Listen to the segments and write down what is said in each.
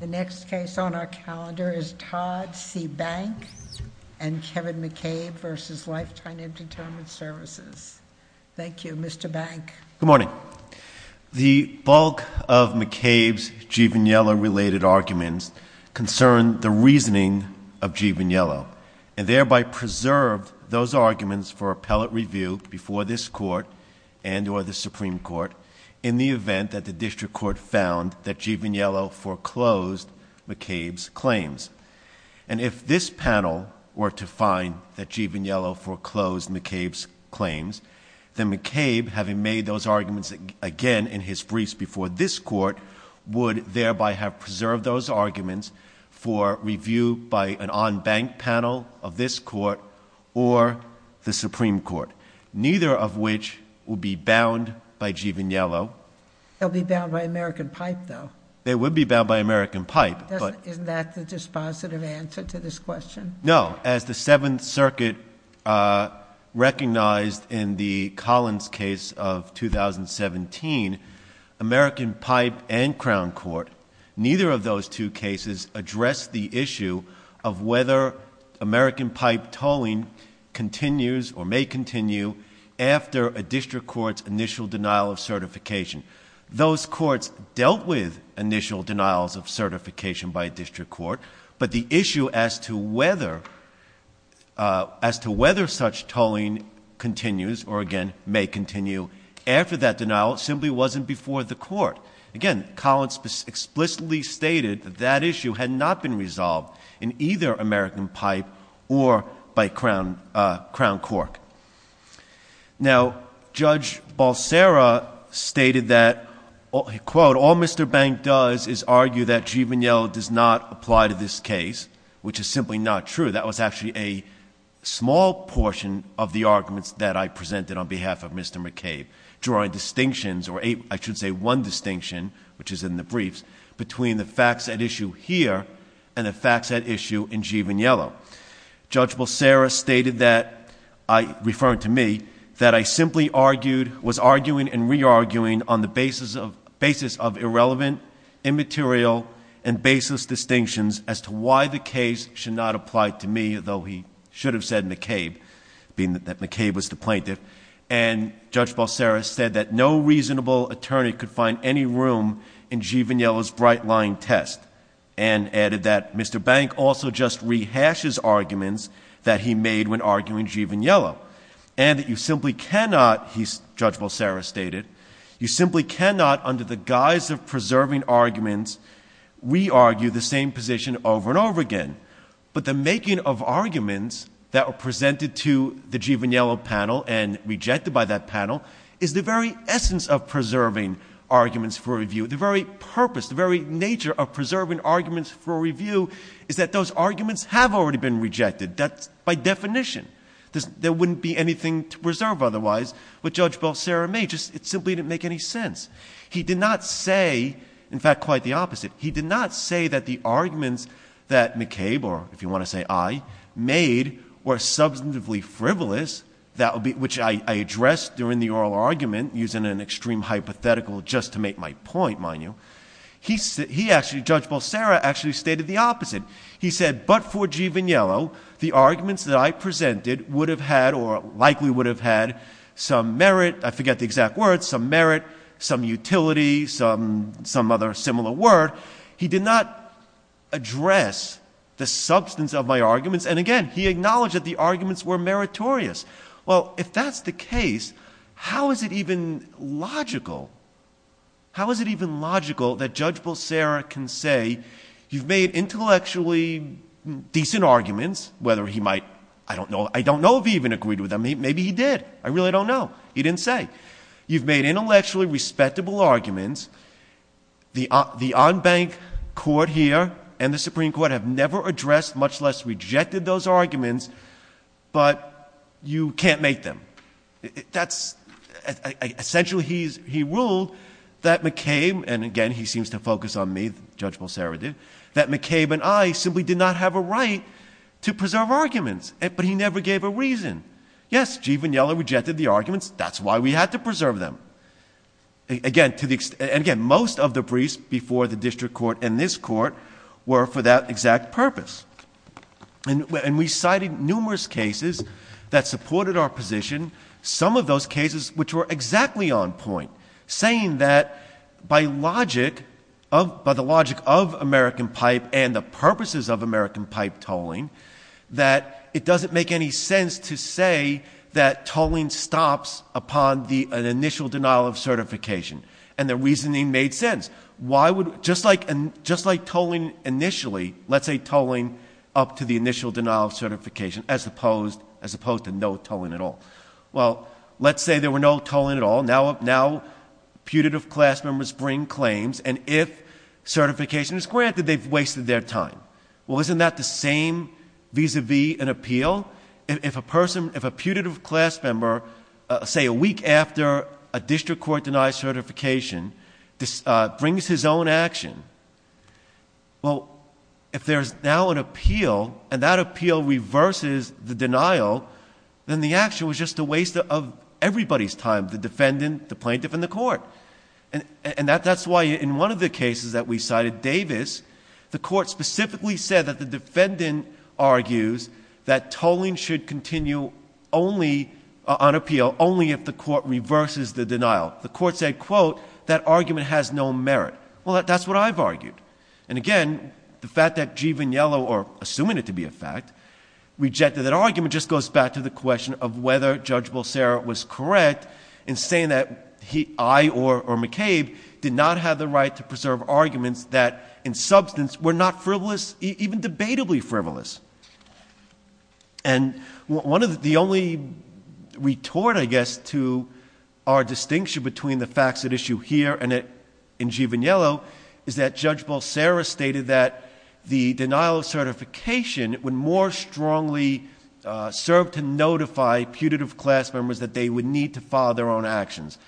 The next case on our calendar is Todd C. Bank v. Kevin McCabe v. Lifetime Entertainment Services. Thank you, Mr. Bank. Good morning. The bulk of McCabe's G. Vigniello-related arguments concern the reasoning of G. Vigniello, and thereby preserved those arguments for appellate review before this Court and or the Supreme Court in the event that the District Court found that G. Vigniello foreclosed McCabe's claims. And if this panel were to find that G. Vigniello foreclosed McCabe's claims, then McCabe, having made those arguments again in his briefs before this Court, would thereby have preserved those arguments for review by an en banc panel of this Court or the Supreme Court, neither of which would be bound by G. Vigniello. They'll be bound by American Pipe, though. They would be bound by American Pipe. Isn't that the dispositive answer to this question? No. As the Seventh Circuit recognized in the Collins case of 2017, American Pipe and Crown Court, neither of those two cases address the issue of whether American Pipe tolling continues or may continue after a District Court's initial denial of certification. Those courts dealt with initial denials of certification by a District Court, but the issue as to whether such tolling continues or, again, may continue after that denial simply wasn't before the Court. Again, Collins explicitly stated that that issue had not been resolved in either American Pipe or by Crown Court. Now, Judge Balserra stated that, quote, all Mr. Bank does is argue that G. Vigniello does not apply to this case, which is simply not true. That was actually a small portion of the arguments that I presented on behalf of Mr. McCabe, drawing distinctions, or I should say one distinction, which is in the briefs, between the facts at issue here and the facts at issue in G. Vigniello. Judge Balserra stated that, referring to me, that I simply argued, was arguing and re-arguing on the basis of irrelevant, immaterial, and baseless distinctions as to why the case should not apply to me, though he should have said McCabe, being that McCabe was the plaintiff. And Judge Balserra said that no reasonable attorney could find any room in G. Vigniello's bright-line test and added that Mr. Bank also just rehashes arguments that he made when arguing G. Vigniello and that you simply cannot, Judge Balserra stated, you simply cannot, under the guise of preserving arguments, re-argue the same position over and over again. But the making of arguments that were presented to the G. Vigniello panel and rejected by that panel is the very essence of preserving arguments for review. The very purpose, the very nature of preserving arguments for review is that those arguments have already been rejected by definition. There wouldn't be anything to preserve otherwise. But Judge Balserra made, it simply didn't make any sense. He did not say, in fact, quite the opposite. He did not say that the arguments that McCabe, or if you want to say I, made were substantively frivolous, which I addressed during the oral argument using an extreme hypothetical just to make my point, mind you. He actually, Judge Balserra, actually stated the opposite. He said, but for G. Vigniello, the arguments that I presented would have had, or likely would have had, some merit, I forget the exact words, some merit, some utility, some other similar word. He did not address the substance of my arguments. And again, he acknowledged that the arguments were meritorious. Well, if that's the case, how is it even logical? How is it even logical that Judge Balserra can say you've made intellectually decent arguments, whether he might, I don't know if he even agreed with them. Maybe he did. I really don't know. He didn't say. You've made intellectually respectable arguments. The en banc court here and the Supreme Court have never addressed, much less rejected those arguments, but you can't make them. Essentially, he ruled that McCabe, and again he seems to focus on me, Judge Balserra did, that McCabe and I simply did not have a right to preserve arguments. But he never gave a reason. Yes, G. Vignella rejected the arguments. That's why we had to preserve them. And again, most of the briefs before the district court and this court were for that exact purpose. And we cited numerous cases that supported our position, some of those cases which were exactly on point, saying that by the logic of American Pipe and the purposes of American Pipe tolling, that it doesn't make any sense to say that tolling stops upon an initial denial of certification. And the reasoning made sense. Just like tolling initially, let's say tolling up to the initial denial of certification, as opposed to no tolling at all. Well, let's say there were no tolling at all. Now putative class members bring claims, and if certification is granted, they've wasted their time. Well, isn't that the same vis-à-vis an appeal? If a putative class member, say a week after a district court denies certification, brings his own action, well, if there's now an appeal, and that appeal reverses the denial, then the action was just a waste of everybody's time, the defendant, the plaintiff, and the court. And that's why in one of the cases that we cited, Davis, the court specifically said that the defendant argues that tolling should continue only on appeal, only if the court reverses the denial. The court said, quote, that argument has no merit. Well, that's what I've argued. And again, the fact that G. Vigniello, or assuming it to be a fact, rejected that argument, just goes back to the question of whether Judge Bolsera was correct in saying that I or McCabe did not have the right to preserve arguments that, in substance, were not frivolous, even debatably frivolous. And one of the only retort, I guess, to our distinction between the facts at issue here and in G. Vigniello, is that Judge Bolsera stated that the denial of certification would more strongly serve to notify putative class members that they would need to follow their own actions.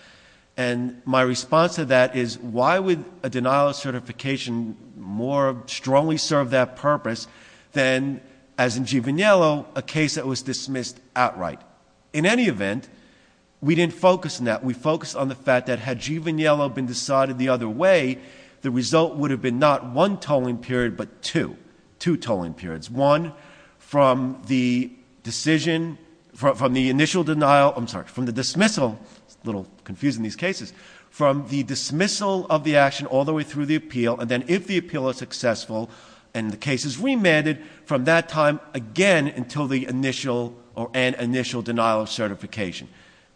And my response to that is, why would a denial of certification more strongly serve that purpose than, as in G. Vigniello, a case that was dismissed outright? In any event, we didn't focus on that. We focused on the fact that, had G. Vigniello been decided the other way, the result would have been not one tolling period, but two. Two tolling periods. One, from the decision, from the initial denial, I'm sorry, from the dismissal, it's a little confusing in these cases, from the dismissal of the action all the way through the appeal, and then if the appeal is successful, and the case is remanded, from that time again until the initial, or an initial denial of certification.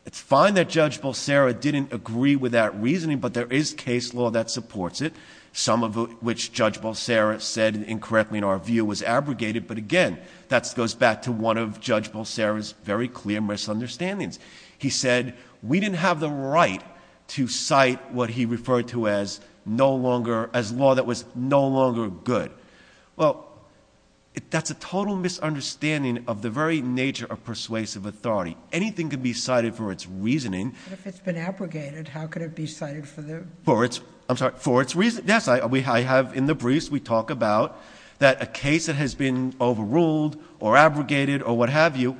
It's fine that Judge Bolsera didn't agree with that reasoning, but there is case law that supports it, some of which Judge Bolsera said incorrectly in our view was abrogated, but again, that goes back to one of Judge Bolsera's very clear misunderstandings. He said, we didn't have the right to cite what he referred to as no longer, as law that was no longer good. Well, that's a total misunderstanding of the very nature of persuasive authority. Anything can be cited for its reasoning. But if it's been abrogated, how could it be cited for the- For its, I'm sorry, for its, yes, I have in the briefs, we talk about that a case that has been overruled, or abrogated, or what have you,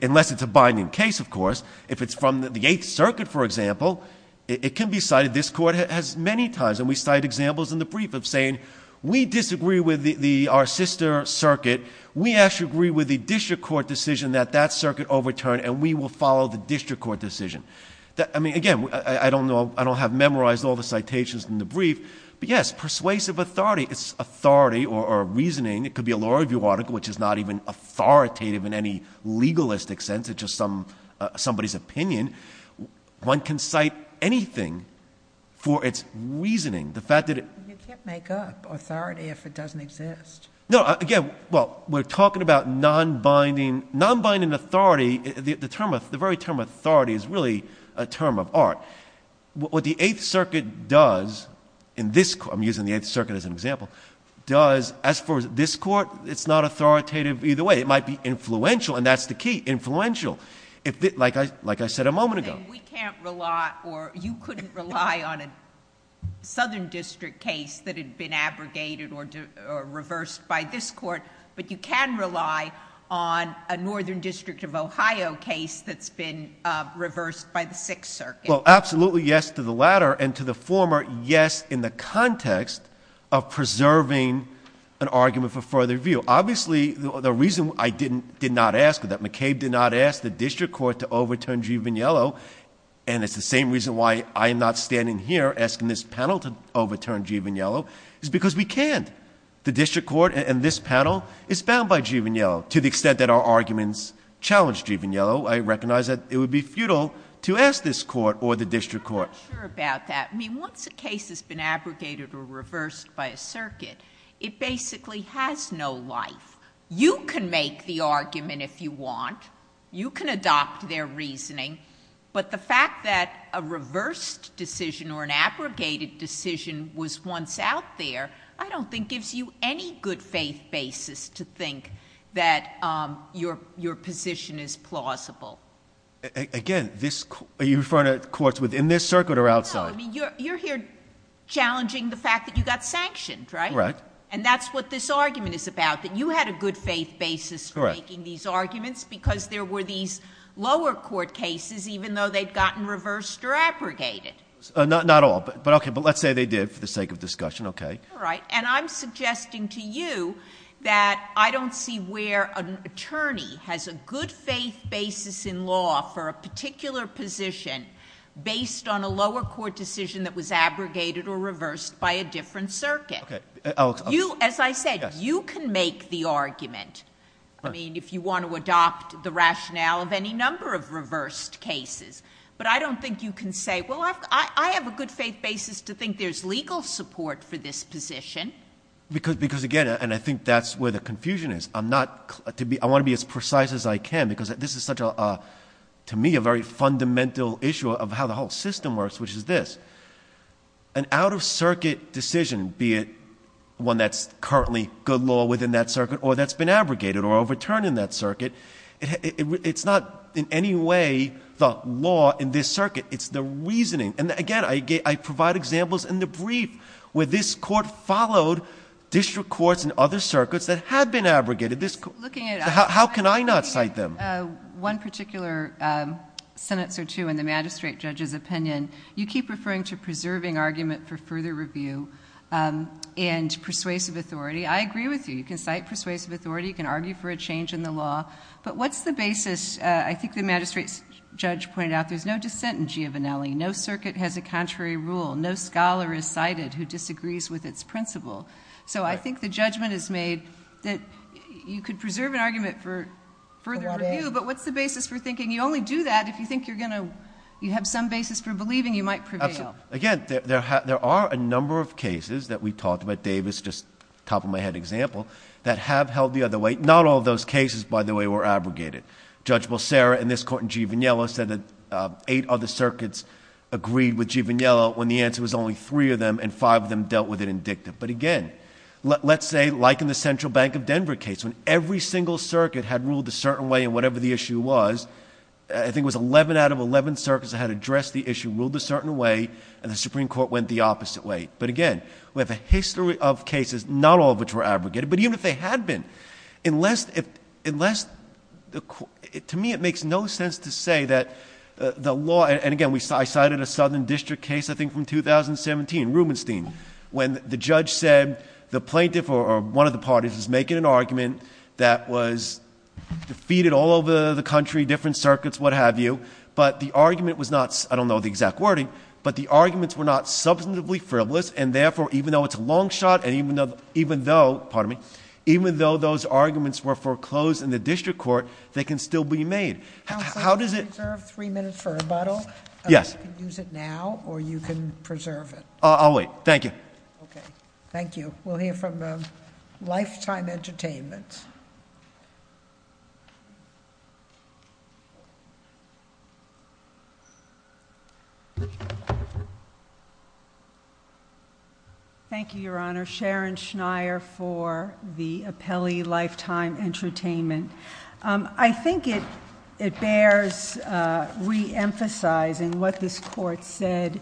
unless it's a binding case, of course, if it's from the Eighth Circuit, for example, it can be cited, this court has many times, and we cite examples in the brief of saying, we disagree with our sister circuit, we actually agree with the district court decision that that circuit overturned, and we will follow the district court decision. I mean, again, I don't know, I don't have memorized all the citations in the brief, but yes, persuasive authority, it's authority or reasoning, it could be a law review article, which is not even authoritative in any legalistic sense, it's just somebody's opinion, one can cite anything for its reasoning. The fact that it- You can't make up authority if it doesn't exist. No, again, well, we're talking about non-binding authority, the very term authority is really a term of art. What the Eighth Circuit does, in this court, I'm using the Eighth Circuit as an example, does, as far as this court, it's not authoritative either way. It might be influential, and that's the key, influential. Like I said a moment ago. We can't rely, or you couldn't rely on a southern district case that had been abrogated or reversed by this court, but you can rely on a northern district of Ohio case that's been reversed by the Sixth Circuit. Well, absolutely yes to the latter, and to the former, yes in the context of preserving an argument for further review. Obviously, the reason I did not ask for that, McCabe did not ask the district court to overturn G. Vigniello, and it's the same reason why I am not standing here asking this panel to overturn G. Vigniello, is because we can't. The district court and this panel is bound by G. Vigniello to the extent that our arguments challenge G. Vigniello. I recognize that it would be futile to ask this court or the district court. I'm not sure about that. I mean, once a case has been abrogated or reversed by a circuit, it basically has no life. You can make the argument if you want. You can adopt their reasoning, but the fact that a reversed decision or an abrogated decision was once out there, I don't think gives you any good faith basis to think that your position is plausible. Again, are you referring to courts within this circuit or outside? No, I mean, you're here challenging the fact that you got sanctioned, right? Right. And that's what this argument is about, that you had a good faith basis for making these arguments because there were these lower court cases even though they'd gotten reversed or abrogated. Not all, but let's say they did for the sake of discussion. All right. And I'm suggesting to you that I don't see where an attorney has a good faith basis in law for a particular position based on a lower court decision that was abrogated or reversed by a different circuit. As I said, you can make the argument. I mean, if you want to adopt the rationale of any number of reversed cases, but I don't think you can say, well, I have a good faith basis to think there's legal support for this position. Because, again, and I think that's where the confusion is. I want to be as precise as I can because this is such a, to me, a very fundamental issue of how the whole system works, which is this. An out-of-circuit decision, be it one that's currently good law within that circuit or that's been abrogated or overturned in that circuit, it's not in any way the law in this circuit. It's the reasoning. And, again, I provide examples in the brief where this court followed district courts and other circuits that had been abrogated. How can I not cite them? One particular sentence or two in the magistrate judge's opinion, you keep referring to preserving argument for further review and persuasive authority. I agree with you. You can cite persuasive authority. You can argue for a change in the law. But what's the basis? I think the magistrate judge pointed out there's no dissent in Giovinelli. No circuit has a contrary rule. No scholar is cited who disagrees with its principle. So I think the judgment is made that you could preserve an argument for further review. But what's the basis for thinking you only do that if you think you're going to have some basis for believing you might prevail? Again, there are a number of cases that we talked about, Davis, just top of my head example, that have held the other way. Not all of those cases, by the way, were abrogated. Judge Bolsera in this court in Giovinelli said that eight other circuits agreed with Giovinelli when the answer was only three of them and five of them dealt with it indictive. But again, let's say, like in the Central Bank of Denver case, when every single circuit had ruled a certain way in whatever the issue was, I think it was 11 out of 11 circuits that had addressed the issue, ruled a certain way, and the Supreme Court went the opposite way. But again, we have a history of cases, not all of which were abrogated, but even if they had been. To me, it makes no sense to say that the law—and again, I cited a Southern District case, I think, from 2017, Rubenstein, when the judge said the plaintiff or one of the parties was making an argument that was defeated all over the country, different circuits, what have you, but the argument was not—I don't know the exact wording— but the arguments were not substantively frivolous, and therefore, even though it's a long shot, and even though—pardon me—even though those arguments were foreclosed in the district court, they can still be made. How does it— Counsel, can I reserve three minutes for rebuttal? Yes. You can use it now or you can preserve it. I'll wait. Thank you. Okay. Thank you. We'll hear from Lifetime Entertainment. Thank you, Your Honor. Sharon Schneier for the appellee, Lifetime Entertainment. I think it bears reemphasizing what this Court said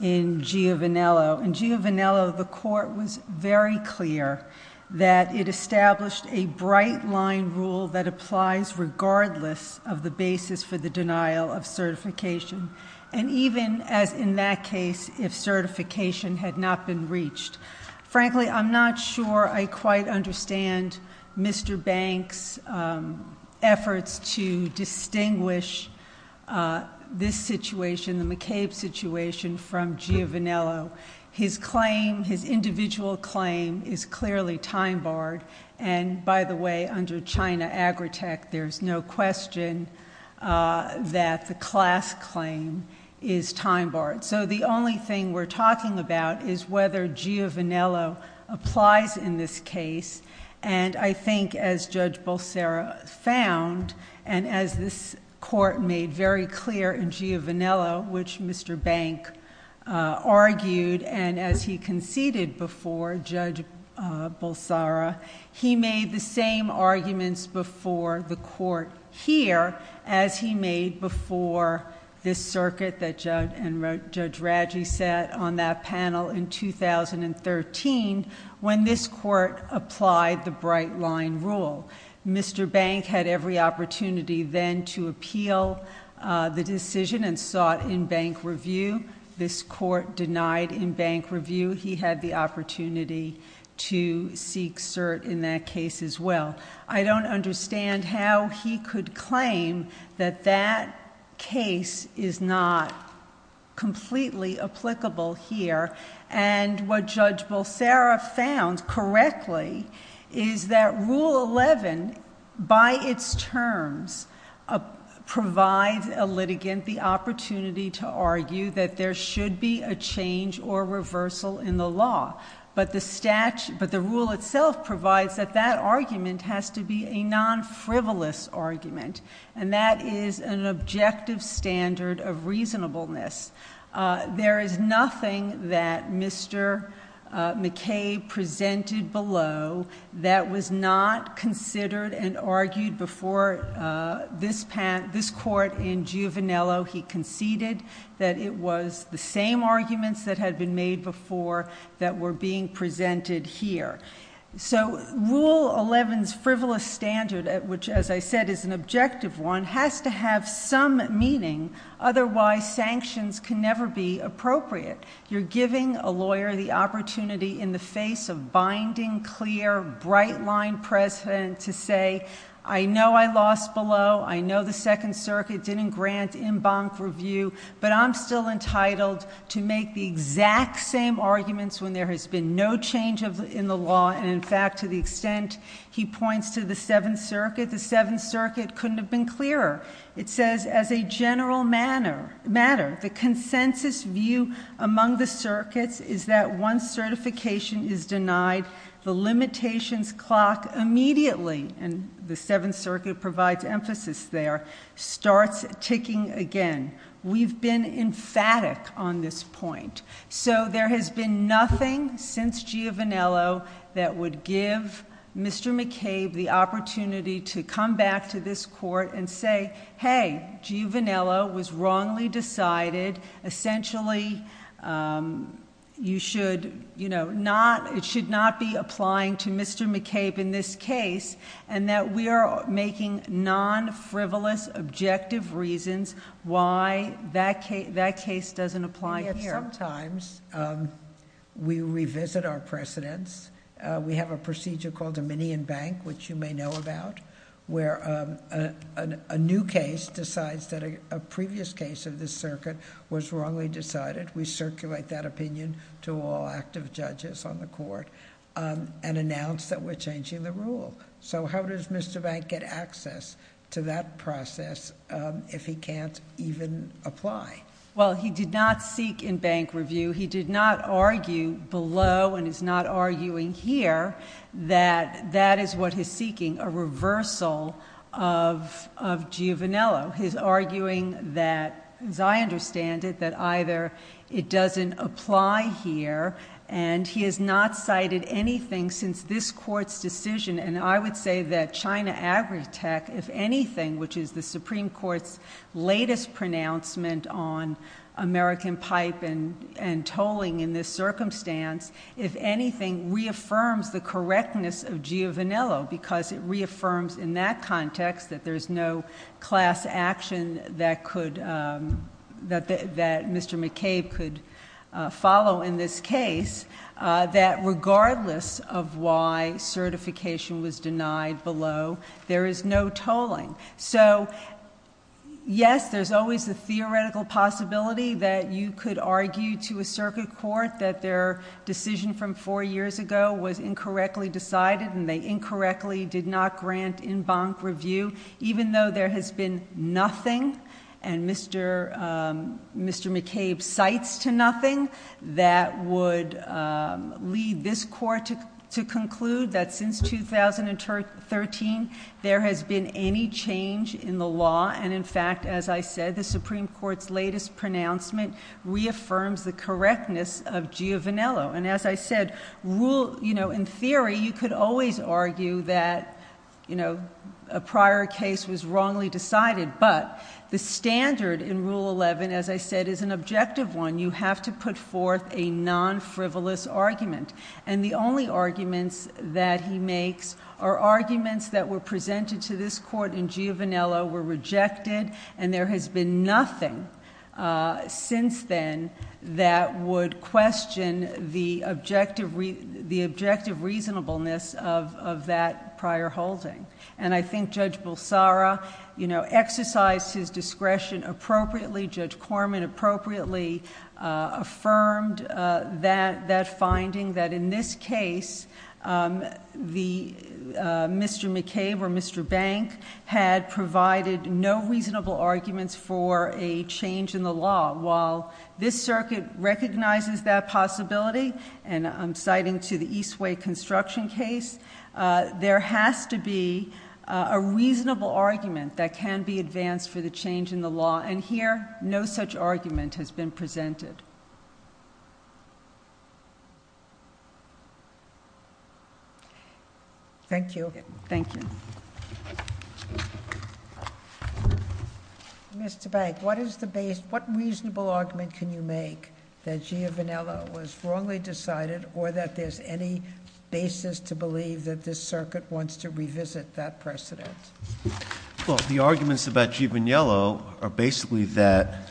in Giovanello. In Giovanello, the Court was very clear that it established a bright-line rule that applies regardless of the basis for the denial of certification, and even, as in that case, if certification had not been reached. Frankly, I'm not sure I quite understand Mr. Banks' efforts to distinguish this situation, the McCabe situation, from Giovanello. His claim, his individual claim, is clearly time-barred. And, by the way, under China Agritech, there's no question that the class claim is time-barred. So the only thing we're talking about is whether Giovanello applies in this case. And I think, as Judge Bolsara found, and as this Court made very clear in Giovanello, which Mr. Banks argued, and as he conceded before Judge Bolsara, he made the same arguments before the Court here, as he made before this circuit that Judge Raggi sat on that panel in 2013, when this Court applied the bright-line rule. Mr. Bank had every opportunity then to appeal the decision and sought in-bank review. This Court denied in-bank review. He had the opportunity to seek cert in that case as well. I don't understand how he could claim that that case is not completely applicable here. And what Judge Bolsara found correctly is that Rule 11, by its terms, provides a litigant the opportunity to argue that there should be a change or reversal in the law. But the rule itself provides that that argument has to be a non-frivolous argument. And that is an objective standard of reasonableness. There is nothing that Mr. McKay presented below that was not considered and argued before this Court in Giovanello. He conceded that it was the same arguments that had been made before that were being presented here. So Rule 11's frivolous standard, which, as I said, is an objective one, has to have some meaning. Otherwise, sanctions can never be appropriate. You're giving a lawyer the opportunity in the face of binding, clear, bright-line precedent to say, I know I lost below, I know the Second Circuit didn't grant in-bank review, but I'm still entitled to make the exact same arguments when there has been no change in the law. And in fact, to the extent he points to the Seventh Circuit, the Seventh Circuit couldn't have been clearer. It says, as a general matter, the consensus view among the circuits is that once certification is denied, the limitations clock immediately, and the Seventh Circuit provides emphasis there, starts ticking again. We've been emphatic on this point. So there has been nothing since Giovanello that would give Mr. McCabe the opportunity to come back to this Court and say, hey, Giovanello was wrongly decided. Essentially, it should not be applying to Mr. McCabe in this case, and that we are making non-frivolous, objective reasons why that case doesn't apply here. Sometimes, we revisit our precedents. We have a procedure called a Minion Bank, which you may know about, where a new case decides that a previous case of this circuit was wrongly decided. We circulate that opinion to all active judges on the Court and announce that we're changing the rule. So how does Mr. Bank get access to that process if he can't even apply? Well, he did not seek in bank review. He did not argue below, and is not arguing here, that that is what he's seeking, a reversal of Giovanello. He's arguing that, as I understand it, that either it doesn't apply here, and he has not cited anything since this Court's decision. And I would say that China Agritech, if anything, which is the Supreme Court's latest pronouncement on American pipe and tolling in this circumstance, if anything, reaffirms the correctness of Giovanello, because it reaffirms, in that context, that there's no class action that Mr. McCabe could follow in this case, that regardless of why certification was denied below, there is no tolling. So, yes, there's always the theoretical possibility that you could argue to a circuit court that their decision from four years ago was incorrectly decided, and they incorrectly did not grant in bank review, even though there has been nothing, and Mr. McCabe cites to nothing, that would lead this Court to conclude that since 2013, there has been any change in the law. And, in fact, as I said, the Supreme Court's latest pronouncement reaffirms the correctness of Giovanello. And, as I said, in theory, you could always argue that a prior case was wrongly decided, but the standard in Rule 11, as I said, is an objective one. You have to put forth a non-frivolous argument. And the only arguments that he makes are arguments that were presented to this Court in Giovanello, were rejected, and there has been nothing since then that would question the objective reasonableness of that prior holding. And I think Judge Bulsara exercised his discretion appropriately. Judge Corman appropriately affirmed that finding, that in this case, Mr. McCabe or Mr. Bank had provided no reasonable arguments for a change in the law. While this circuit recognizes that possibility, and I'm citing to the Eastway construction case, there has to be a reasonable argument that can be advanced for the change in the law. And here, no such argument has been presented. Thank you. Thank you. Mr. Bank, what is the base, what reasonable argument can you make that Giovanello was wrongly decided, or that there's any basis to believe that this circuit wants to revisit that precedent? Well, the arguments about Giovanello are basically that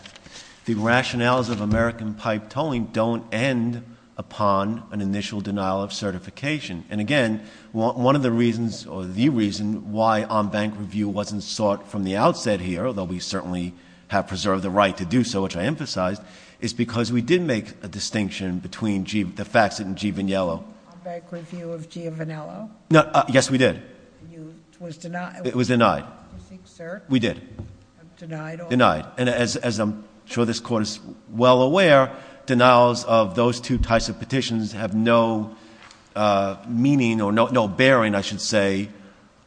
the rationales of American pipe towing don't end upon an initial denial of certification. And again, one of the reasons, or the reason, why on-bank review wasn't sought from the outset here, although we certainly have preserved the right to do so, which I emphasized, is because we did make a distinction between the facts in Giovanello. On-bank review of Giovanello? Yes, we did. It was denied? It was denied. Do you think, sir? We did. Denied? Denied. And as I'm sure this Court is well aware, denials of those two types of petitions have no meaning, or no bearing, I should say,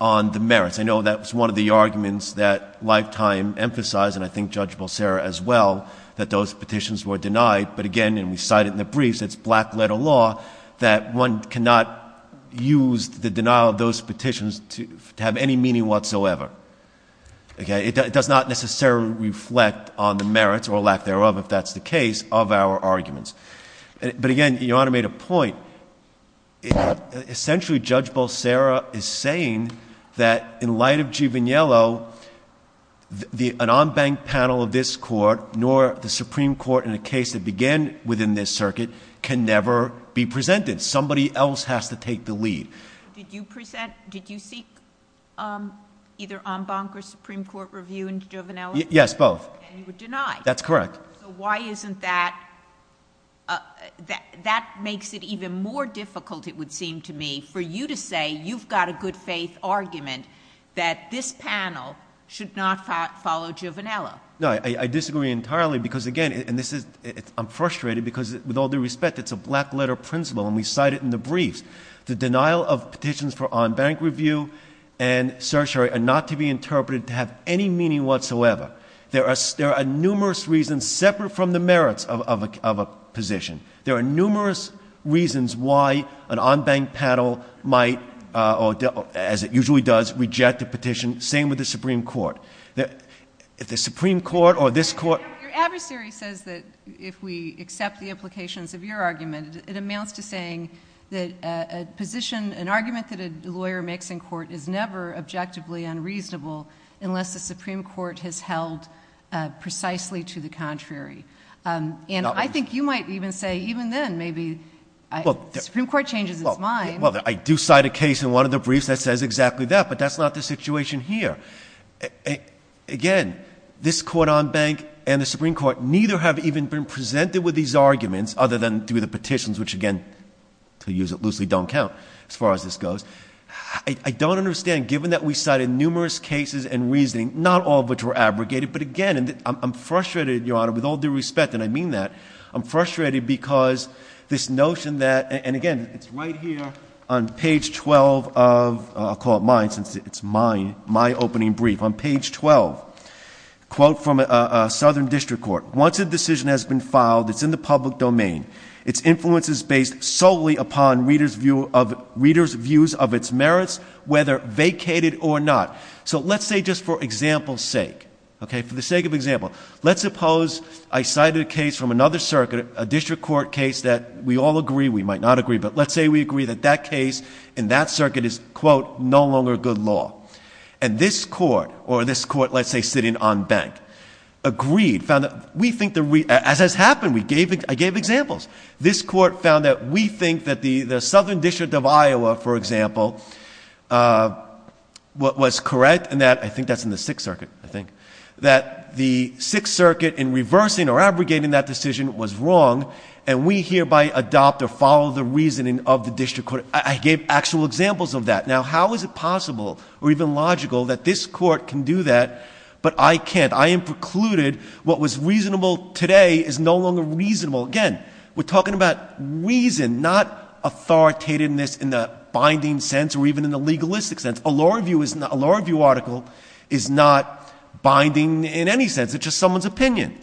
on the merits. I know that was one of the arguments that Lifetime emphasized, and I think Judge Balserra as well, that those petitions were denied. But again, and we cite it in the briefs, it's black-letter law, that one cannot use the denial of those petitions to have any meaning whatsoever. It does not necessarily reflect on the merits, or lack thereof, if that's the case, of our arguments. But again, Your Honor made a point. Essentially, Judge Balserra is saying that in light of Giovanello, an on-bank panel of this Court, nor the Supreme Court in a case that began within this circuit, can never be presented. Somebody else has to take the lead. Did you present, did you seek either on-bank or Supreme Court review in Giovanello? Yes, both. And you were denied? That's correct. So why isn't that, that makes it even more difficult, it would seem to me, for you to say you've got a good-faith argument that this panel should not follow Giovanello? No, I disagree entirely, because again, and this is, I'm frustrated because with all due respect, it's a black-letter principle, and we cite it in the briefs. The denial of petitions for on-bank review and certiorari are not to be interpreted to have any meaning whatsoever. There are numerous reasons separate from the merits of a position. There are numerous reasons why an on-bank panel might, as it usually does, reject a petition. Same with the Supreme Court. If the Supreme Court or this Court ---- Your adversary says that if we accept the implications of your argument, it amounts to saying that a position, an argument that a lawyer makes in court, is never objectively unreasonable unless the Supreme Court has held precisely to the contrary. And I think you might even say even then maybe the Supreme Court changes its mind. Well, I do cite a case in one of the briefs that says exactly that, but that's not the situation here. Again, this Court on Bank and the Supreme Court neither have even been presented with these arguments, other than through the petitions, which again, to use it loosely, don't count as far as this goes. I don't understand, given that we cited numerous cases and reasoning, not all of which were abrogated, but again, I'm frustrated, Your Honor, with all due respect, and I mean that, I'm frustrated because this notion that ---- and again, it's right here on page 12 of ---- I'll call it mine since it's my opening brief. On page 12, a quote from Southern District Court. Once a decision has been filed, it's in the public domain. Its influence is based solely upon readers' views of its merits, whether vacated or not. So let's say just for example's sake, okay, for the sake of example, let's suppose I cited a case from another circuit, a district court case that we all agree, we might not agree, but let's say we agree that that case in that circuit is, quote, no longer good law. And this court or this court, let's say, sitting on bank, agreed, found that we think the ---- as has happened, I gave examples. This court found that we think that the Southern District of Iowa, for example, was correct in that ---- I think that's in the Sixth Circuit, I think ---- that the Sixth Circuit in reversing or abrogating that decision was wrong, and we hereby adopt or follow the reasoning of the district court. I gave actual examples of that. Now, how is it possible or even logical that this court can do that, but I can't? I am precluded. What was reasonable today is no longer reasonable. Again, we're talking about reason, not authoritativeness in the binding sense or even in the legalistic sense. A law review article is not binding in any sense. It's just someone's opinion.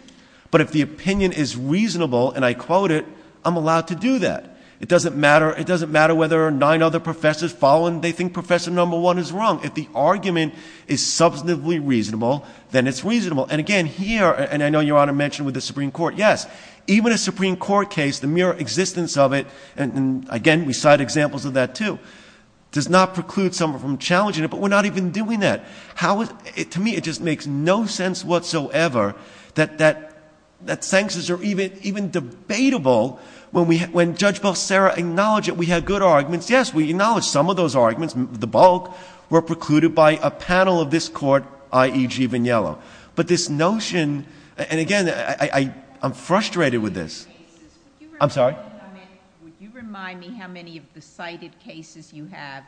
But if the opinion is reasonable, and I quote it, I'm allowed to do that. It doesn't matter whether nine other professors follow and they think Professor No. 1 is wrong. If the argument is substantively reasonable, then it's reasonable. And again, here, and I know Your Honor mentioned with the Supreme Court, yes, even a Supreme Court case, the mere existence of it, and again, we cite examples of that too, does not preclude someone from challenging it. But we're not even doing that. How is ---- to me, it just makes no sense whatsoever that sanctions are even debatable when Judge Belserra acknowledged that we had good arguments. Yes, we acknowledged some of those arguments, the bulk, were precluded by a panel of this court, i.e. G. Vigniello. But this notion, and again, I'm frustrated with this. I'm sorry? Would you remind me how many of the cited cases you have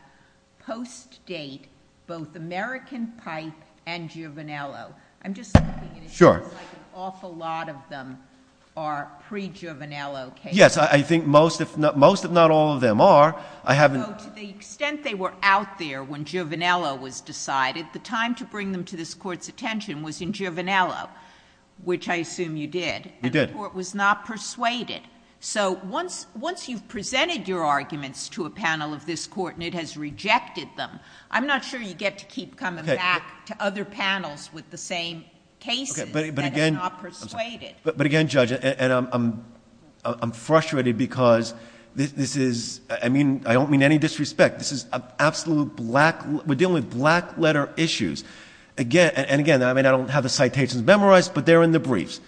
post-date both American Pipe and Giovanello? I'm just looking at it. Sure. It seems like an awful lot of them are pre-Giovanello cases. Yes, I think most, if not all, of them are. So to the extent they were out there when Giovanello was decided, the time to bring them to this court's attention was in Giovanello, which I assume you did. You did. And the court was not persuaded. So once you've presented your arguments to a panel of this court and it has rejected them, I'm not sure you get to keep coming back to other panels with the same cases that have not persuaded. But again, Judge, and I'm frustrated because this is ---- I don't mean any disrespect. This is an absolute black ---- we're dealing with black-letter issues. And again, I don't have the citations memorized, but they're in the briefs.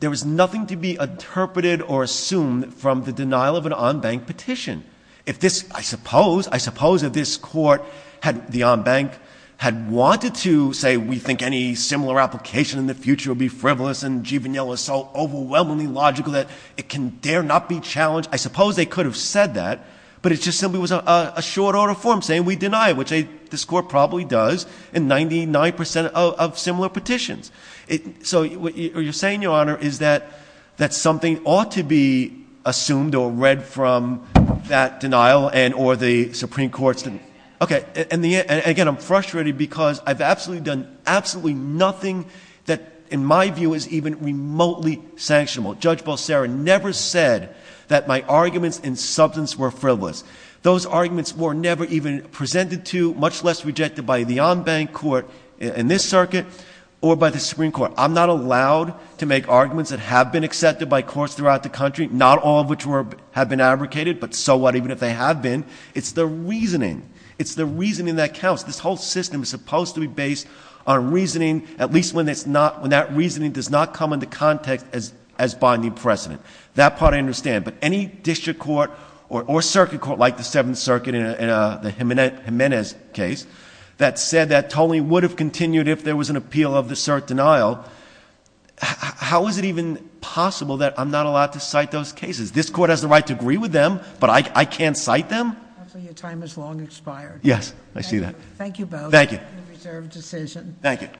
There was nothing to be interpreted or assumed from the denial of an en banc petition. If this ---- I suppose, I suppose if this court, the en banc, had wanted to say we think any similar application in the future would be frivolous and Giovanello is so overwhelmingly logical that it can dare not be challenged, I suppose they could have said that. But it just simply was a short order form saying we deny it, which this court probably does in 99 percent of similar petitions. So what you're saying, Your Honor, is that something ought to be assumed or read from that denial and or the Supreme Court's. Okay. And again, I'm frustrated because I've absolutely done absolutely nothing that in my view is even remotely sanctionable. Judge Bolsera never said that my arguments in substance were frivolous. Those arguments were never even presented to, much less rejected by the en banc court in this circuit or by the Supreme Court. I'm not allowed to make arguments that have been accepted by courts throughout the country, not all of which have been advocated, but so what even if they have been. It's the reasoning. It's the reasoning that counts. This whole system is supposed to be based on reasoning, at least when that reasoning does not come into context as binding precedent. That part I understand. But any district court or circuit court like the Seventh Circuit in the Jimenez case that said that totally would have continued if there was an appeal of the cert denial, how is it even possible that I'm not allowed to cite those cases? This court has the right to agree with them, but I can't cite them? Your time has long expired. Yes, I see that. Thank you both. Thank you. Reserved decision. Thank you.